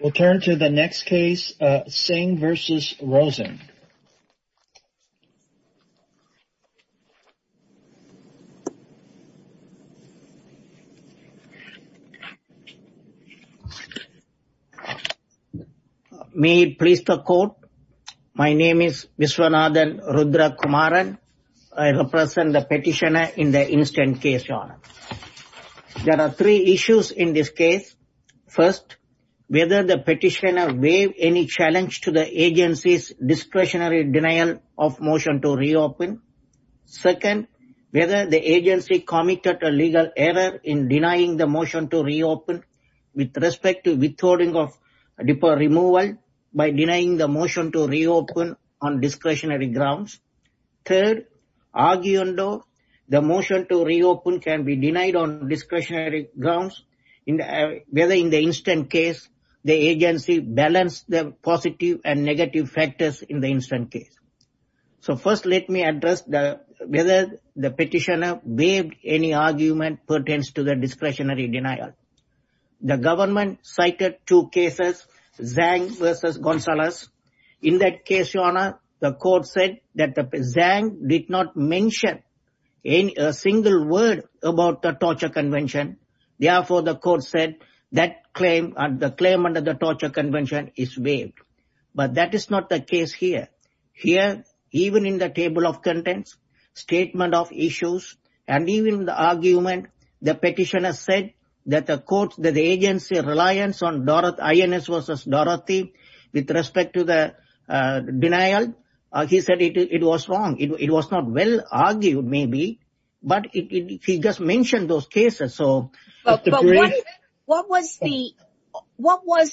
We'll turn to the next case, Singh versus Rosen. May it please the court. My name is Viswanathan Rudra Kumaran. I represent the petitioner in the instant case. There are three issues in this case. First, whether the petitioner waive any challenge to the agency's discretionary denial of motion to reopen. Second, whether the agency committed a legal error in denying the motion to reopen with respect to withholding of removal by denying the motion to reopen on discretionary grounds. Third, arguing though the motion to reopen can be denied on discretionary grounds, whether in the instant case, the agency balanced the positive and negative factors in the instant case. So first, let me address whether the petitioner waived any argument pertains to the discretionary denial. The government cited two cases, Zhang versus Gonzalez. In that case, your honor, the court said that Zhang did not mention a single word about the torture convention. Therefore, the court said that claim and the claim under the torture convention is waived. But that is not the case here. Here, even in the table of contents, statement of issues, and even the argument, the petitioner said that the court, that the agency reliance on INS versus Dorothy with respect to the denial, he said it was wrong. It was not well argued, maybe, but he just mentioned those cases. So what was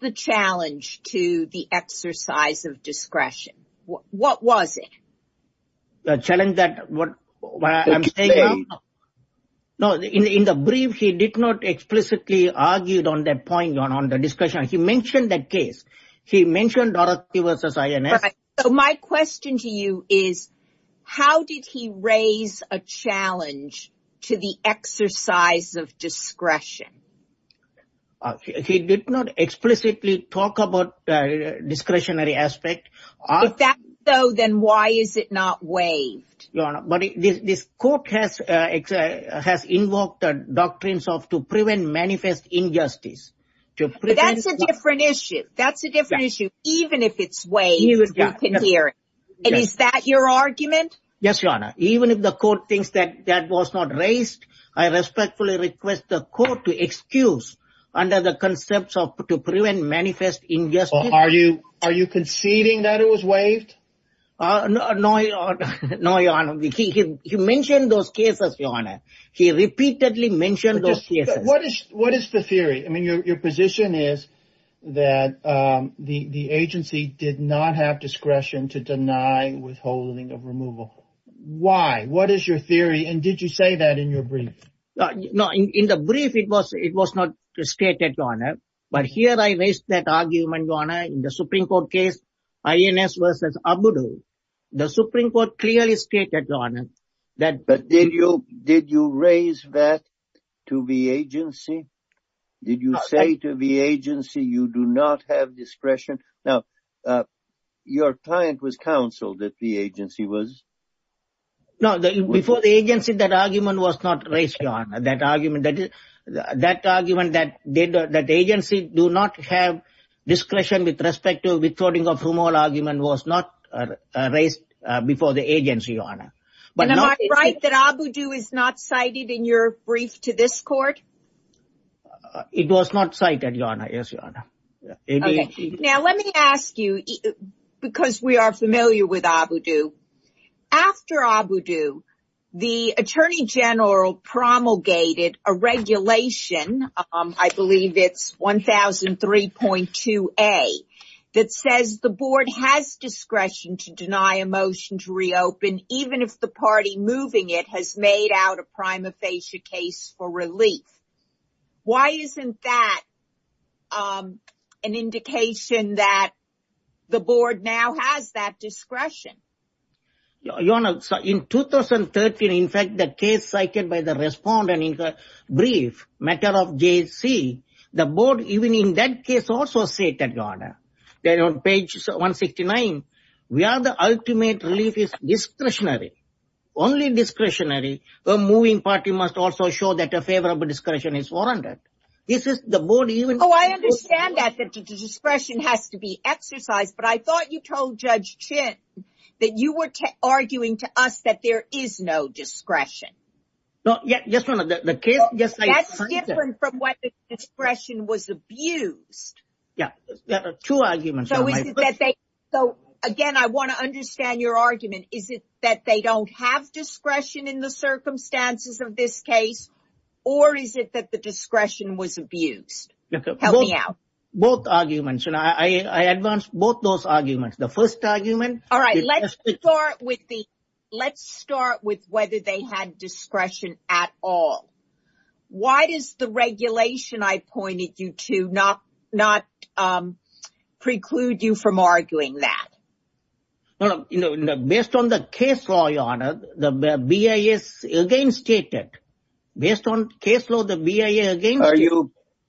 the challenge to the exercise of discretion? What was it? The challenge that no, in the brief, he did not explicitly argued on that point on the discretion. He mentioned that case. He mentioned Dorothy versus INS. So my question to you is, how did he raise a challenge to the exercise of discretion? He did not explicitly talk about the discretionary aspect. If that's so, then why is it not waived? Your honor, but this court has invoked the injustice. That's a different issue. That's a different issue, even if it's waived. And is that your argument? Yes, your honor. Even if the court thinks that that was not raised, I respectfully request the court to excuse under the concepts of to prevent manifest injustice. Are you are you conceding that it was waived? No, your honor. He mentioned those cases, your honor. He repeatedly mentioned those cases. What is what is the theory? I mean, your position is that the agency did not have discretion to deny withholding of removal. Why? What is your theory? And did you say that in your brief? No, in the brief, it was it was not stated, your honor. But here I raised that argument, your honor. In the Supreme Court case, INS versus ABUDU, the Supreme Court clearly stated, your honor, that. But did you did you raise that to the agency? Did you say to the agency, you do not have discretion? Now, your client was counseled that the agency was. No, before the agency, that argument was not raised, your honor. That argument that is that argument that did that agency do not have discretion with respect to withholding of removal argument was not raised before the agency, your honor. But am I right that ABUDU is not cited in your brief to this court? It was not cited, your honor. Yes, your honor. Now, let me ask you, because we are familiar with point two, a that says the board has discretion to deny a motion to reopen, even if the party moving it has made out a prima facie case for relief. Why isn't that an indication that the board now has that discretion? Your honor, in 2013, in fact, the case cited by the respondent in the brief matter of JC, the board, even in that case, also stated, your honor, that on page 169, we are the ultimate relief is discretionary, only discretionary. A moving party must also show that a favorable discretion is warranted. This is the board even. Oh, I understand that the discretion has to be exercised. But I thought you told Judge Chin that you were arguing to us that there is no discretion was abused. Yeah, there are two arguments. So again, I want to understand your argument. Is it that they don't have discretion in the circumstances of this case? Or is it that the discretion was abused? Both arguments. And I advance both those arguments. The first argument. All right. Let's start with the let's start with whether they had discretion at all. Why does the regulation I pointed you to not not preclude you from arguing that? Well, you know, based on the case law, your honor, the BIA is against it. Based on case law, the BIA against it.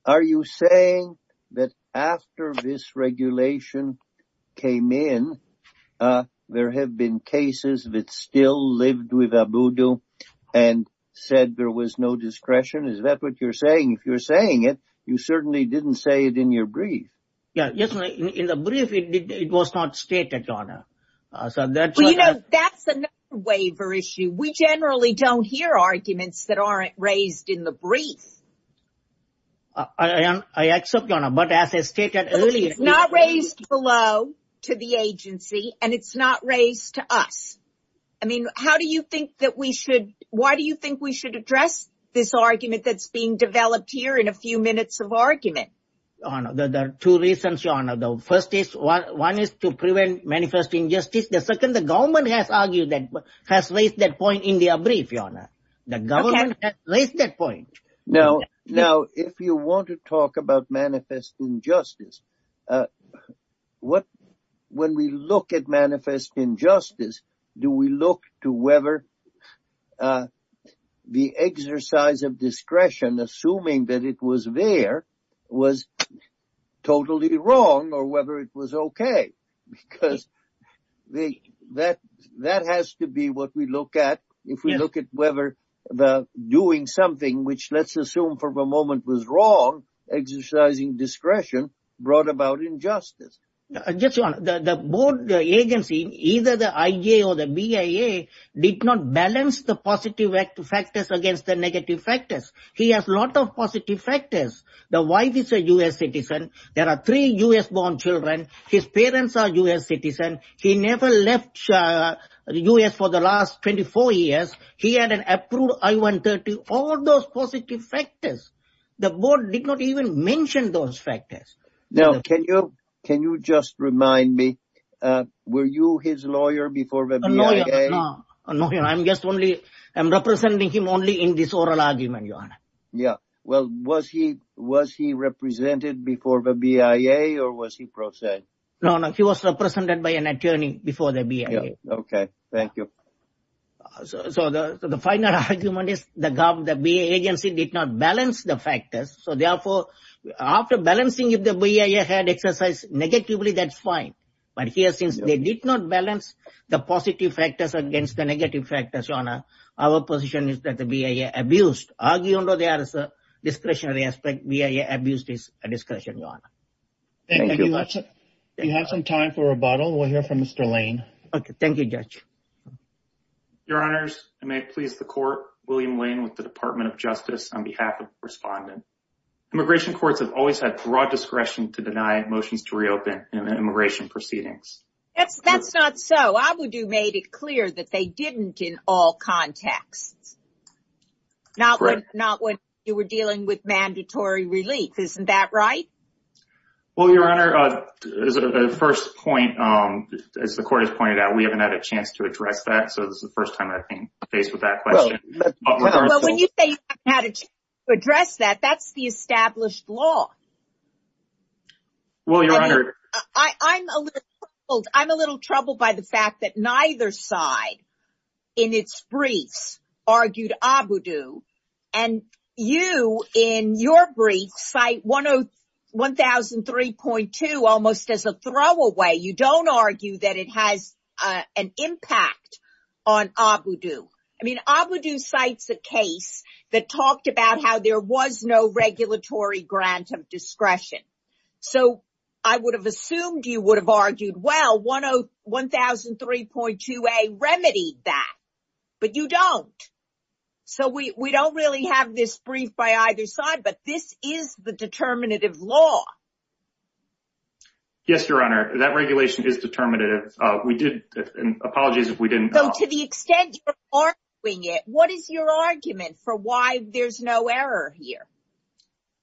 Are you saying that after this regulation came in, there have been cases that still lived with a voodoo and said there was no discretion? Is that what you're saying? If you're saying it, you certainly didn't say it in your brief. Yeah, yes. In the brief, it did. It was not stated on. So that's, you know, that's a waiver issue. We generally don't hear arguments that aren't raised in the brief. And I accept, but as I stated earlier, not raised below to the agency. And it's not raised to us. I mean, how do you think that we should? Why do you think we should address this argument that's being developed here in a few minutes of argument? There are two reasons, your honor. The first is one is to prevent manifest injustice. The second, the government has argued that has raised that point in their brief, your honor. The government has raised that point. Now, if you want to talk about manifest injustice, what when we look at manifest injustice, do we look to whether the exercise of discretion, assuming that it was there, was totally wrong or whether it was OK? Because that has to be what we look at if we look at whether the doing something which let's assume for a moment was wrong, exercising discretion brought about injustice. Just one, the board agency, either the IA or the BIA did not balance the positive factors against the negative factors. He has a lot of positive factors. The wife is a U.S. citizen. There are three U.S. born children. His parents are U.S. citizens. He never left the U.S. for the last 24 years. He had an approved I-130. All those positive factors, the board did not even mention those factors. Now, can you can you just remind me, were you his lawyer before the BIA? No, I'm just only I'm representing him only in this oral argument, your honor. Yeah. Well, was he was he represented before the BIA or was he pro se? No, no. He was represented by an attorney before the BIA. OK, thank you. So the final argument is the BIA agency did not balance the factors. So therefore, after balancing, if the BIA had exercised negatively, that's fine. But here, since they did not balance the positive factors against the negative factors, your honor, our position is that the BIA abused. Arguably, there is a discretionary aspect. BIA abused his discretion, your honor. Thank you very much. We have some time for rebuttal. We'll hear from Mr. Lane. OK, thank you, Judge. Your honors, I may please the court. William Lane with the Department of Justice on behalf of the respondent. Immigration courts have always had broad discretion to deny motions to reopen immigration proceedings. That's that's not so. I would have made it clear that they didn't in all contexts. Not when you were dealing with mandatory relief. Isn't that right? Well, your honor, the first point, as the court has pointed out, we haven't had a chance to address that. So this is the first time I've been faced with that question. Well, when you say you haven't had a chance to address that, that's the established law. Well, your honor, I'm a little troubled. I'm a little troubled by the fact that neither side in its briefs argued Abudu. And you in your brief cite 1003.2 almost as a throwaway. You don't argue that it has an impact on Abudu. I mean, Abudu cites a case that talked about how there was no regulatory grant of discretion. So I would have assumed you would have argued, well, 1003.2A remedied that. But you don't. So we don't really have this brief by either side. But this is the determinative law. Yes, your honor, that regulation is determinative. We did. Apologies if we didn't. So to the extent you're arguing it, what is your argument for why there's no error here?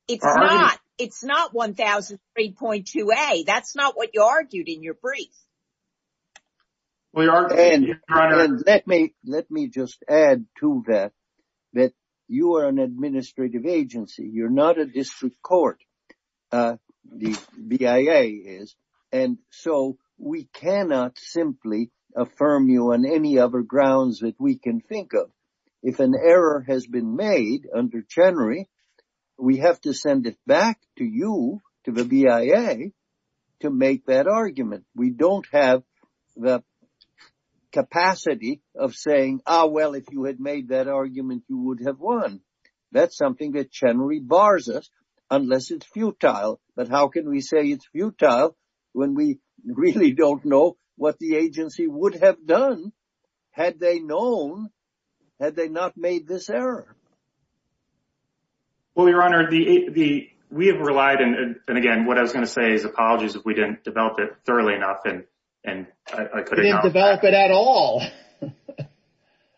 It's not. It's not 1003.2A. That's not what you argued in your brief. Let me just add to that that you are an administrative agency. You're not a district court. The BIA is. And so we cannot simply affirm you on any other grounds that we can think of. If an error has been made under Chenery, we have to send it back to you, to the BIA, to make that argument. We don't have the capacity of saying, oh, well, if you had made that argument, you would have won. That's something that Chenery bars us, unless it's futile. But how can we say it's futile when we really don't know what the agency would have done had they known, had they not made this error? Well, your honor, we have relied. And again, what I was going to say is apologies if we didn't develop it thoroughly enough. And I couldn't develop it at all.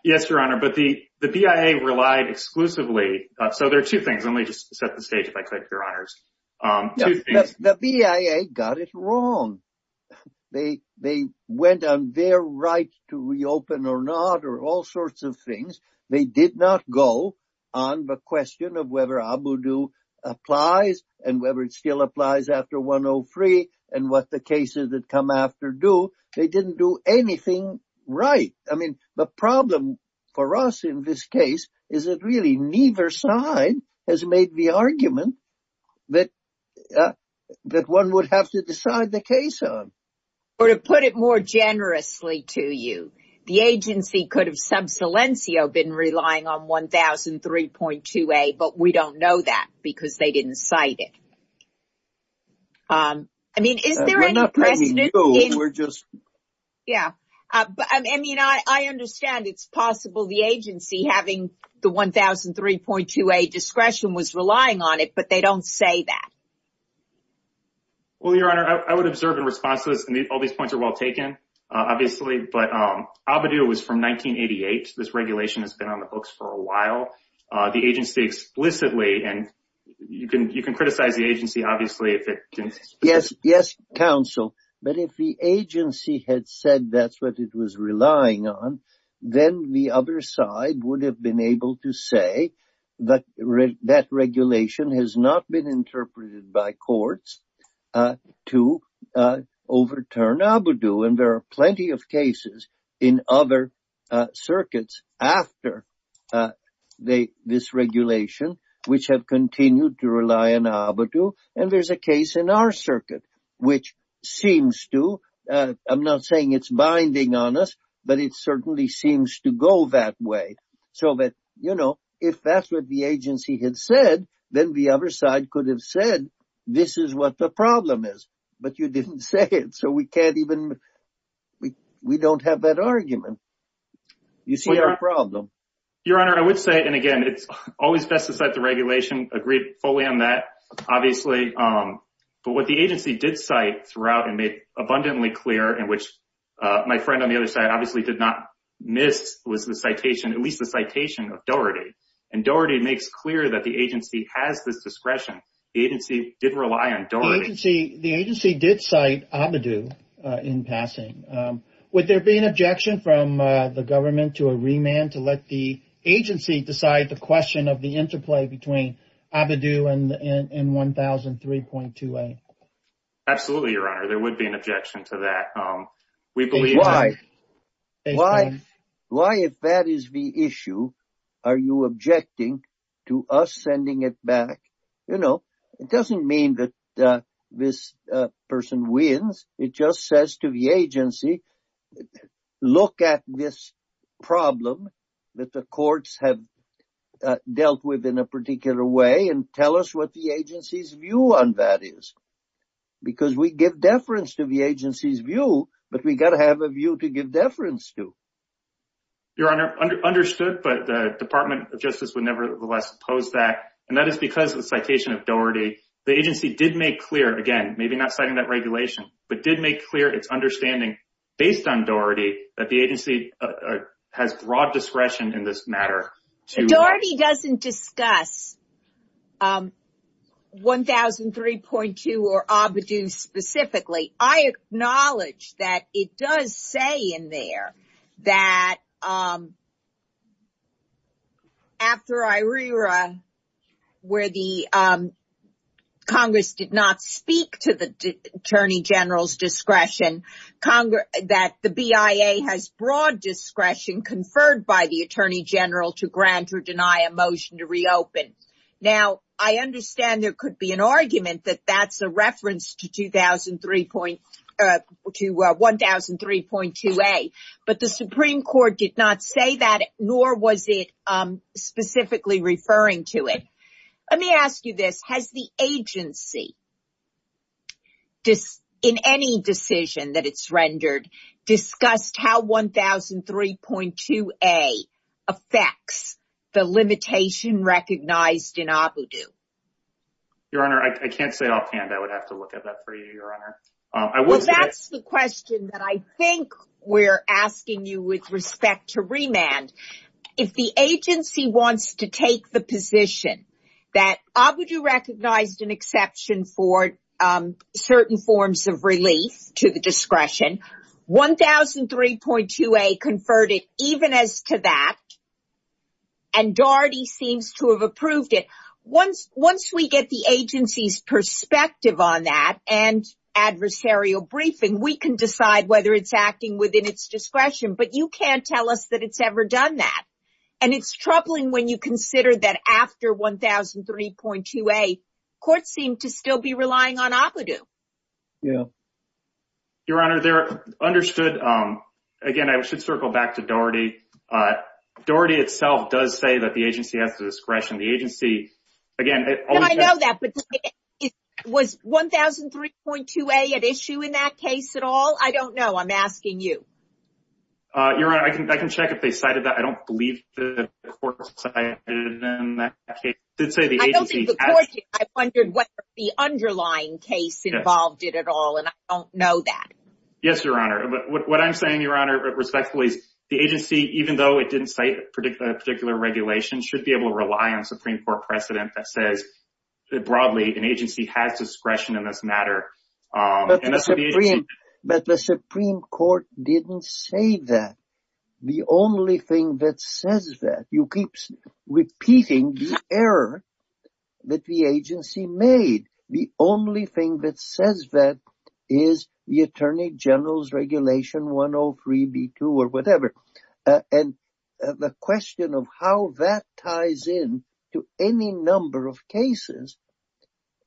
Yes, your honor. But the BIA relied exclusively. So there are two things. Let me just set the stage, if I could, your honors. Two things. The BIA got it wrong. They went on their right to reopen or not or all sorts of things. They did not go on the question of whether ABUDU applies and whether it still applies after 103 and what the cases that come after do. They didn't do anything right. I mean, the problem for us in this case is that really neither side has made the argument that one would have to decide the case on. Or to put it more generously to you, the agency could have sub silencio been relying on 1003.2a, but we don't know that because they didn't cite it. I mean, I understand it's possible the agency having the 1003.2a discretion was relying on it, but they don't say that. Well, your honor, I would observe in response to this, and all these points are well taken, obviously, but ABUDU was from 1988. This regulation has been on the books for a while. The agency explicitly, and you can criticize the agency, obviously. Yes, yes, counsel, but if the agency had said that's what it was relying on, then the other side would have been able to say that that regulation has not been interpreted by the agency. I'm not saying it's binding on us, but it certainly seems to go that way. If that's what the agency had said, then the other side could have said, this is what the problem is. But you didn't say it, so we don't have that argument. You see our problem. Your honor, I would say, and again, it's always best to cite the regulation, agree fully on that, obviously. But what the agency did cite throughout and made abundantly clear, and which my friend on the other side obviously did not miss, was the citation, at least the citation of Doherty. Doherty makes clear that the agency has this discretion. The agency did rely on Doherty. The agency did cite ABIDU in passing. Would there be an objection from the government to a remand to let the agency decide the question of the interplay between ABIDU and 1003.2a? Absolutely, your honor, there would be an objection to that. Why? Why, if that is the issue, are you objecting to us sending it back? You know, it doesn't mean that this person wins. It just says to the agency, look at this problem that the courts have dealt with in a particular way and tell us what the agency's view on that is. Because we give deference to the agency's view, but we got to have a view to give deference to. Your honor, understood, but the Department of Justice would nevertheless oppose that. And that is because of the citation of Doherty. The agency did make clear, again, maybe not citing that regulation, but did make clear its understanding based on Doherty that the agency has broad discretion in this matter. Doherty doesn't discuss 1003.2 or ABIDU specifically. I acknowledge that it does say in there that after IRERA, where the Congress did not speak to the Attorney General's discretion, that the BIA has broad discretion conferred by the Attorney General to grant or deny a motion to reopen. Now, I understand there could be an argument that that's a reference to 1003.2A, but the Supreme Court did not say that, nor was it specifically referring to it. Let me ask you this. Has the agency, in any decision that it's rendered, discussed how 1003.2A affects the limitation recognized in ABIDU? Your honor, I can't say it offhand. I would have to look at that for you, your honor. Well, that's the question that I think we're asking you with respect to remand. If the agency wants to take the position that ABIDU recognized an exception for certain forms of relief to the discretion, 1003.2A conferred it even as to that, and Doherty seems to have approved it. Once we get the agency's perspective on that and adversarial briefing, we can decide whether it's acting within its discretion, but you can't tell us that it's ever done that. And it's troubling when you consider that after 1003.2A, courts seem to still be relying on ABIDU. Your honor, they're understood. Again, I should circle back to Doherty. Doherty itself does say that the agency has the discretion. The agency, again... I know that, but was 1003.2A at issue in that case at all? I don't know. I'm asking you. Your honor, I can check if they cited that. I don't believe the court cited it in that case. I don't think the court did. I wondered whether the underlying case involved it at all, and I don't know that. Yes, your honor. But what I'm saying, your honor, respectfully, is the agency, even though it didn't cite a particular regulation, should be able to rely on a Supreme Court precedent that says broadly an agency has discretion in this matter. But the Supreme Court didn't say that. The only thing that says that. You keep repeating the error that the agency made. The only thing that says that is the Attorney General's Regulation 103B2 or whatever. And the question of how that ties in to any number of cases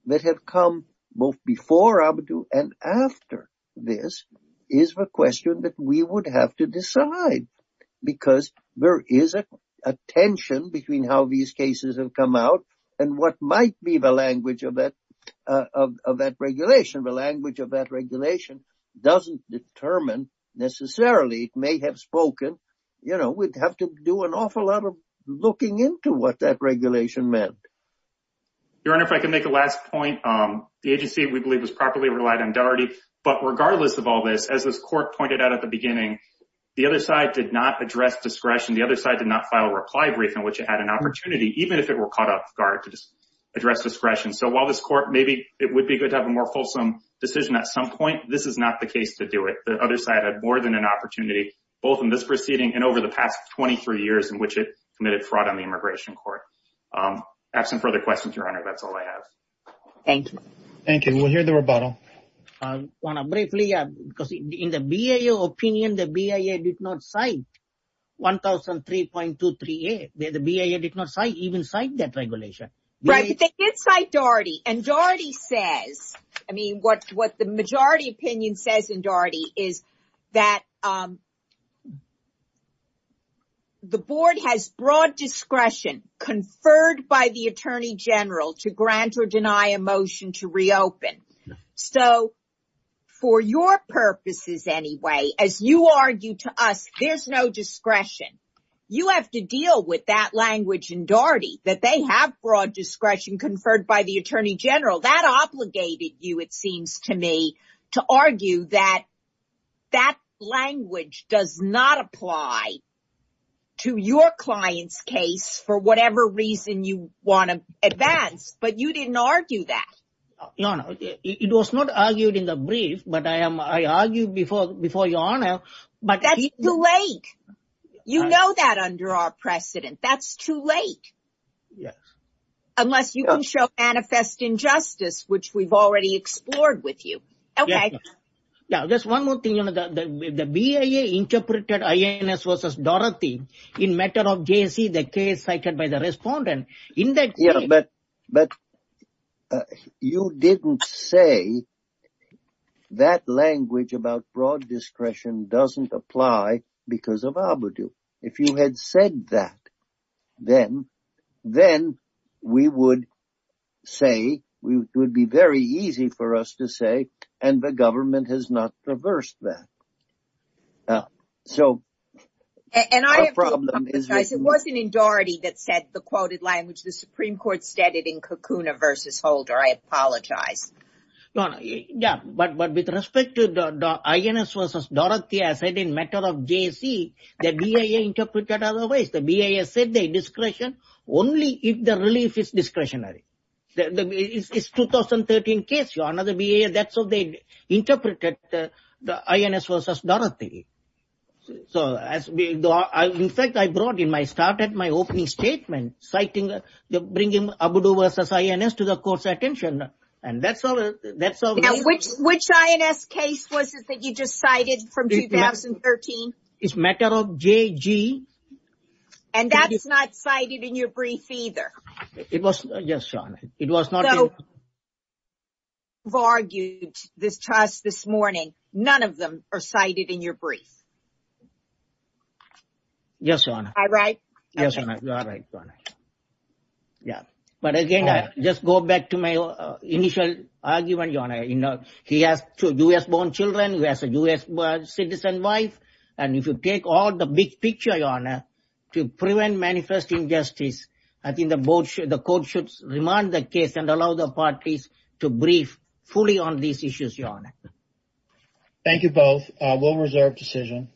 that have come both before ABIDU and after this is the question that we would have to decide. Because there is a tension between how these cases have come out and what might be the language of that regulation. The language of that regulation doesn't determine necessarily, it may have spoken. You know, we'd have to do an awful lot of looking into what that regulation meant. Your honor, if I can make a last point. The agency, we believe, was properly relied on the other side did not address discretion. The other side did not file a reply brief in which it had an opportunity, even if it were caught off guard to just address discretion. So while this court, maybe it would be good to have a more fulsome decision at some point, this is not the case to do it. The other side had more than an opportunity, both in this proceeding and over the past 23 years in which it committed fraud on the immigration court. I have some further questions, your honor. That's all I have. Thank you. Thank you. We'll hear the rebuttal. I want to briefly, because in the BIA opinion, the BIA did not cite 1003.238. The BIA did not even cite that regulation. Right, but they did cite Daugherty. And Daugherty says, I mean, what the majority opinion says in Daugherty is that the board has broad discretion conferred by the attorney general to grant or deny a motion to file. So for your purposes anyway, as you argue to us, there's no discretion. You have to deal with that language in Daugherty, that they have broad discretion conferred by the attorney general. That obligated you, it seems to me, to argue that that language does not apply to your client's case for whatever reason you want to advance. But you didn't argue that. Your honor, it was not argued in the brief, but I argued before your honor. But that's too late. You know that under our precedent. That's too late. Yes. Unless you can show manifest injustice, which we've already explored with you. Okay. Yeah, just one more thing. The BIA interpreted INS versus Daugherty in matter of J.C., the case cited by the respondent. But you didn't say that language about broad discretion doesn't apply because of ABUDU. If you had said that, then we would say, it would be very easy for us to say, and the government has not reversed that. So the problem is... The Supreme Court said it in Kukuna versus Holder. I apologize. Your honor, yeah. But with respect to the INS versus Daugherty, I said in matter of J.C., the BIA interpreted otherwise. The BIA said they discretion only if the relief is discretionary. It's 2013 case, your honor. The BIA, that's how they interpreted the INS versus Daugherty. So in fact, I brought in, I started my opening statement, citing the bringing ABUDU versus INS to the court's attention. And that's all... Now, which INS case was it that you just cited from 2013? It's matter of J.G. And that's not cited in your brief either? It was, yes, your honor. It was not... You've argued this to us this morning. None of them are cited in your brief. Yes, your honor. Am I right? Yes, your honor. You are right, your honor. Yeah. But again, I just go back to my initial argument, your honor. He has two U.S. born children. He has a U.S. citizen wife. And if you take all the big picture, your honor, to prevent manifest injustice, I think the court should remind the case and allow the parties to brief fully on these issues, your honor. Thank you both. We'll reserve decision.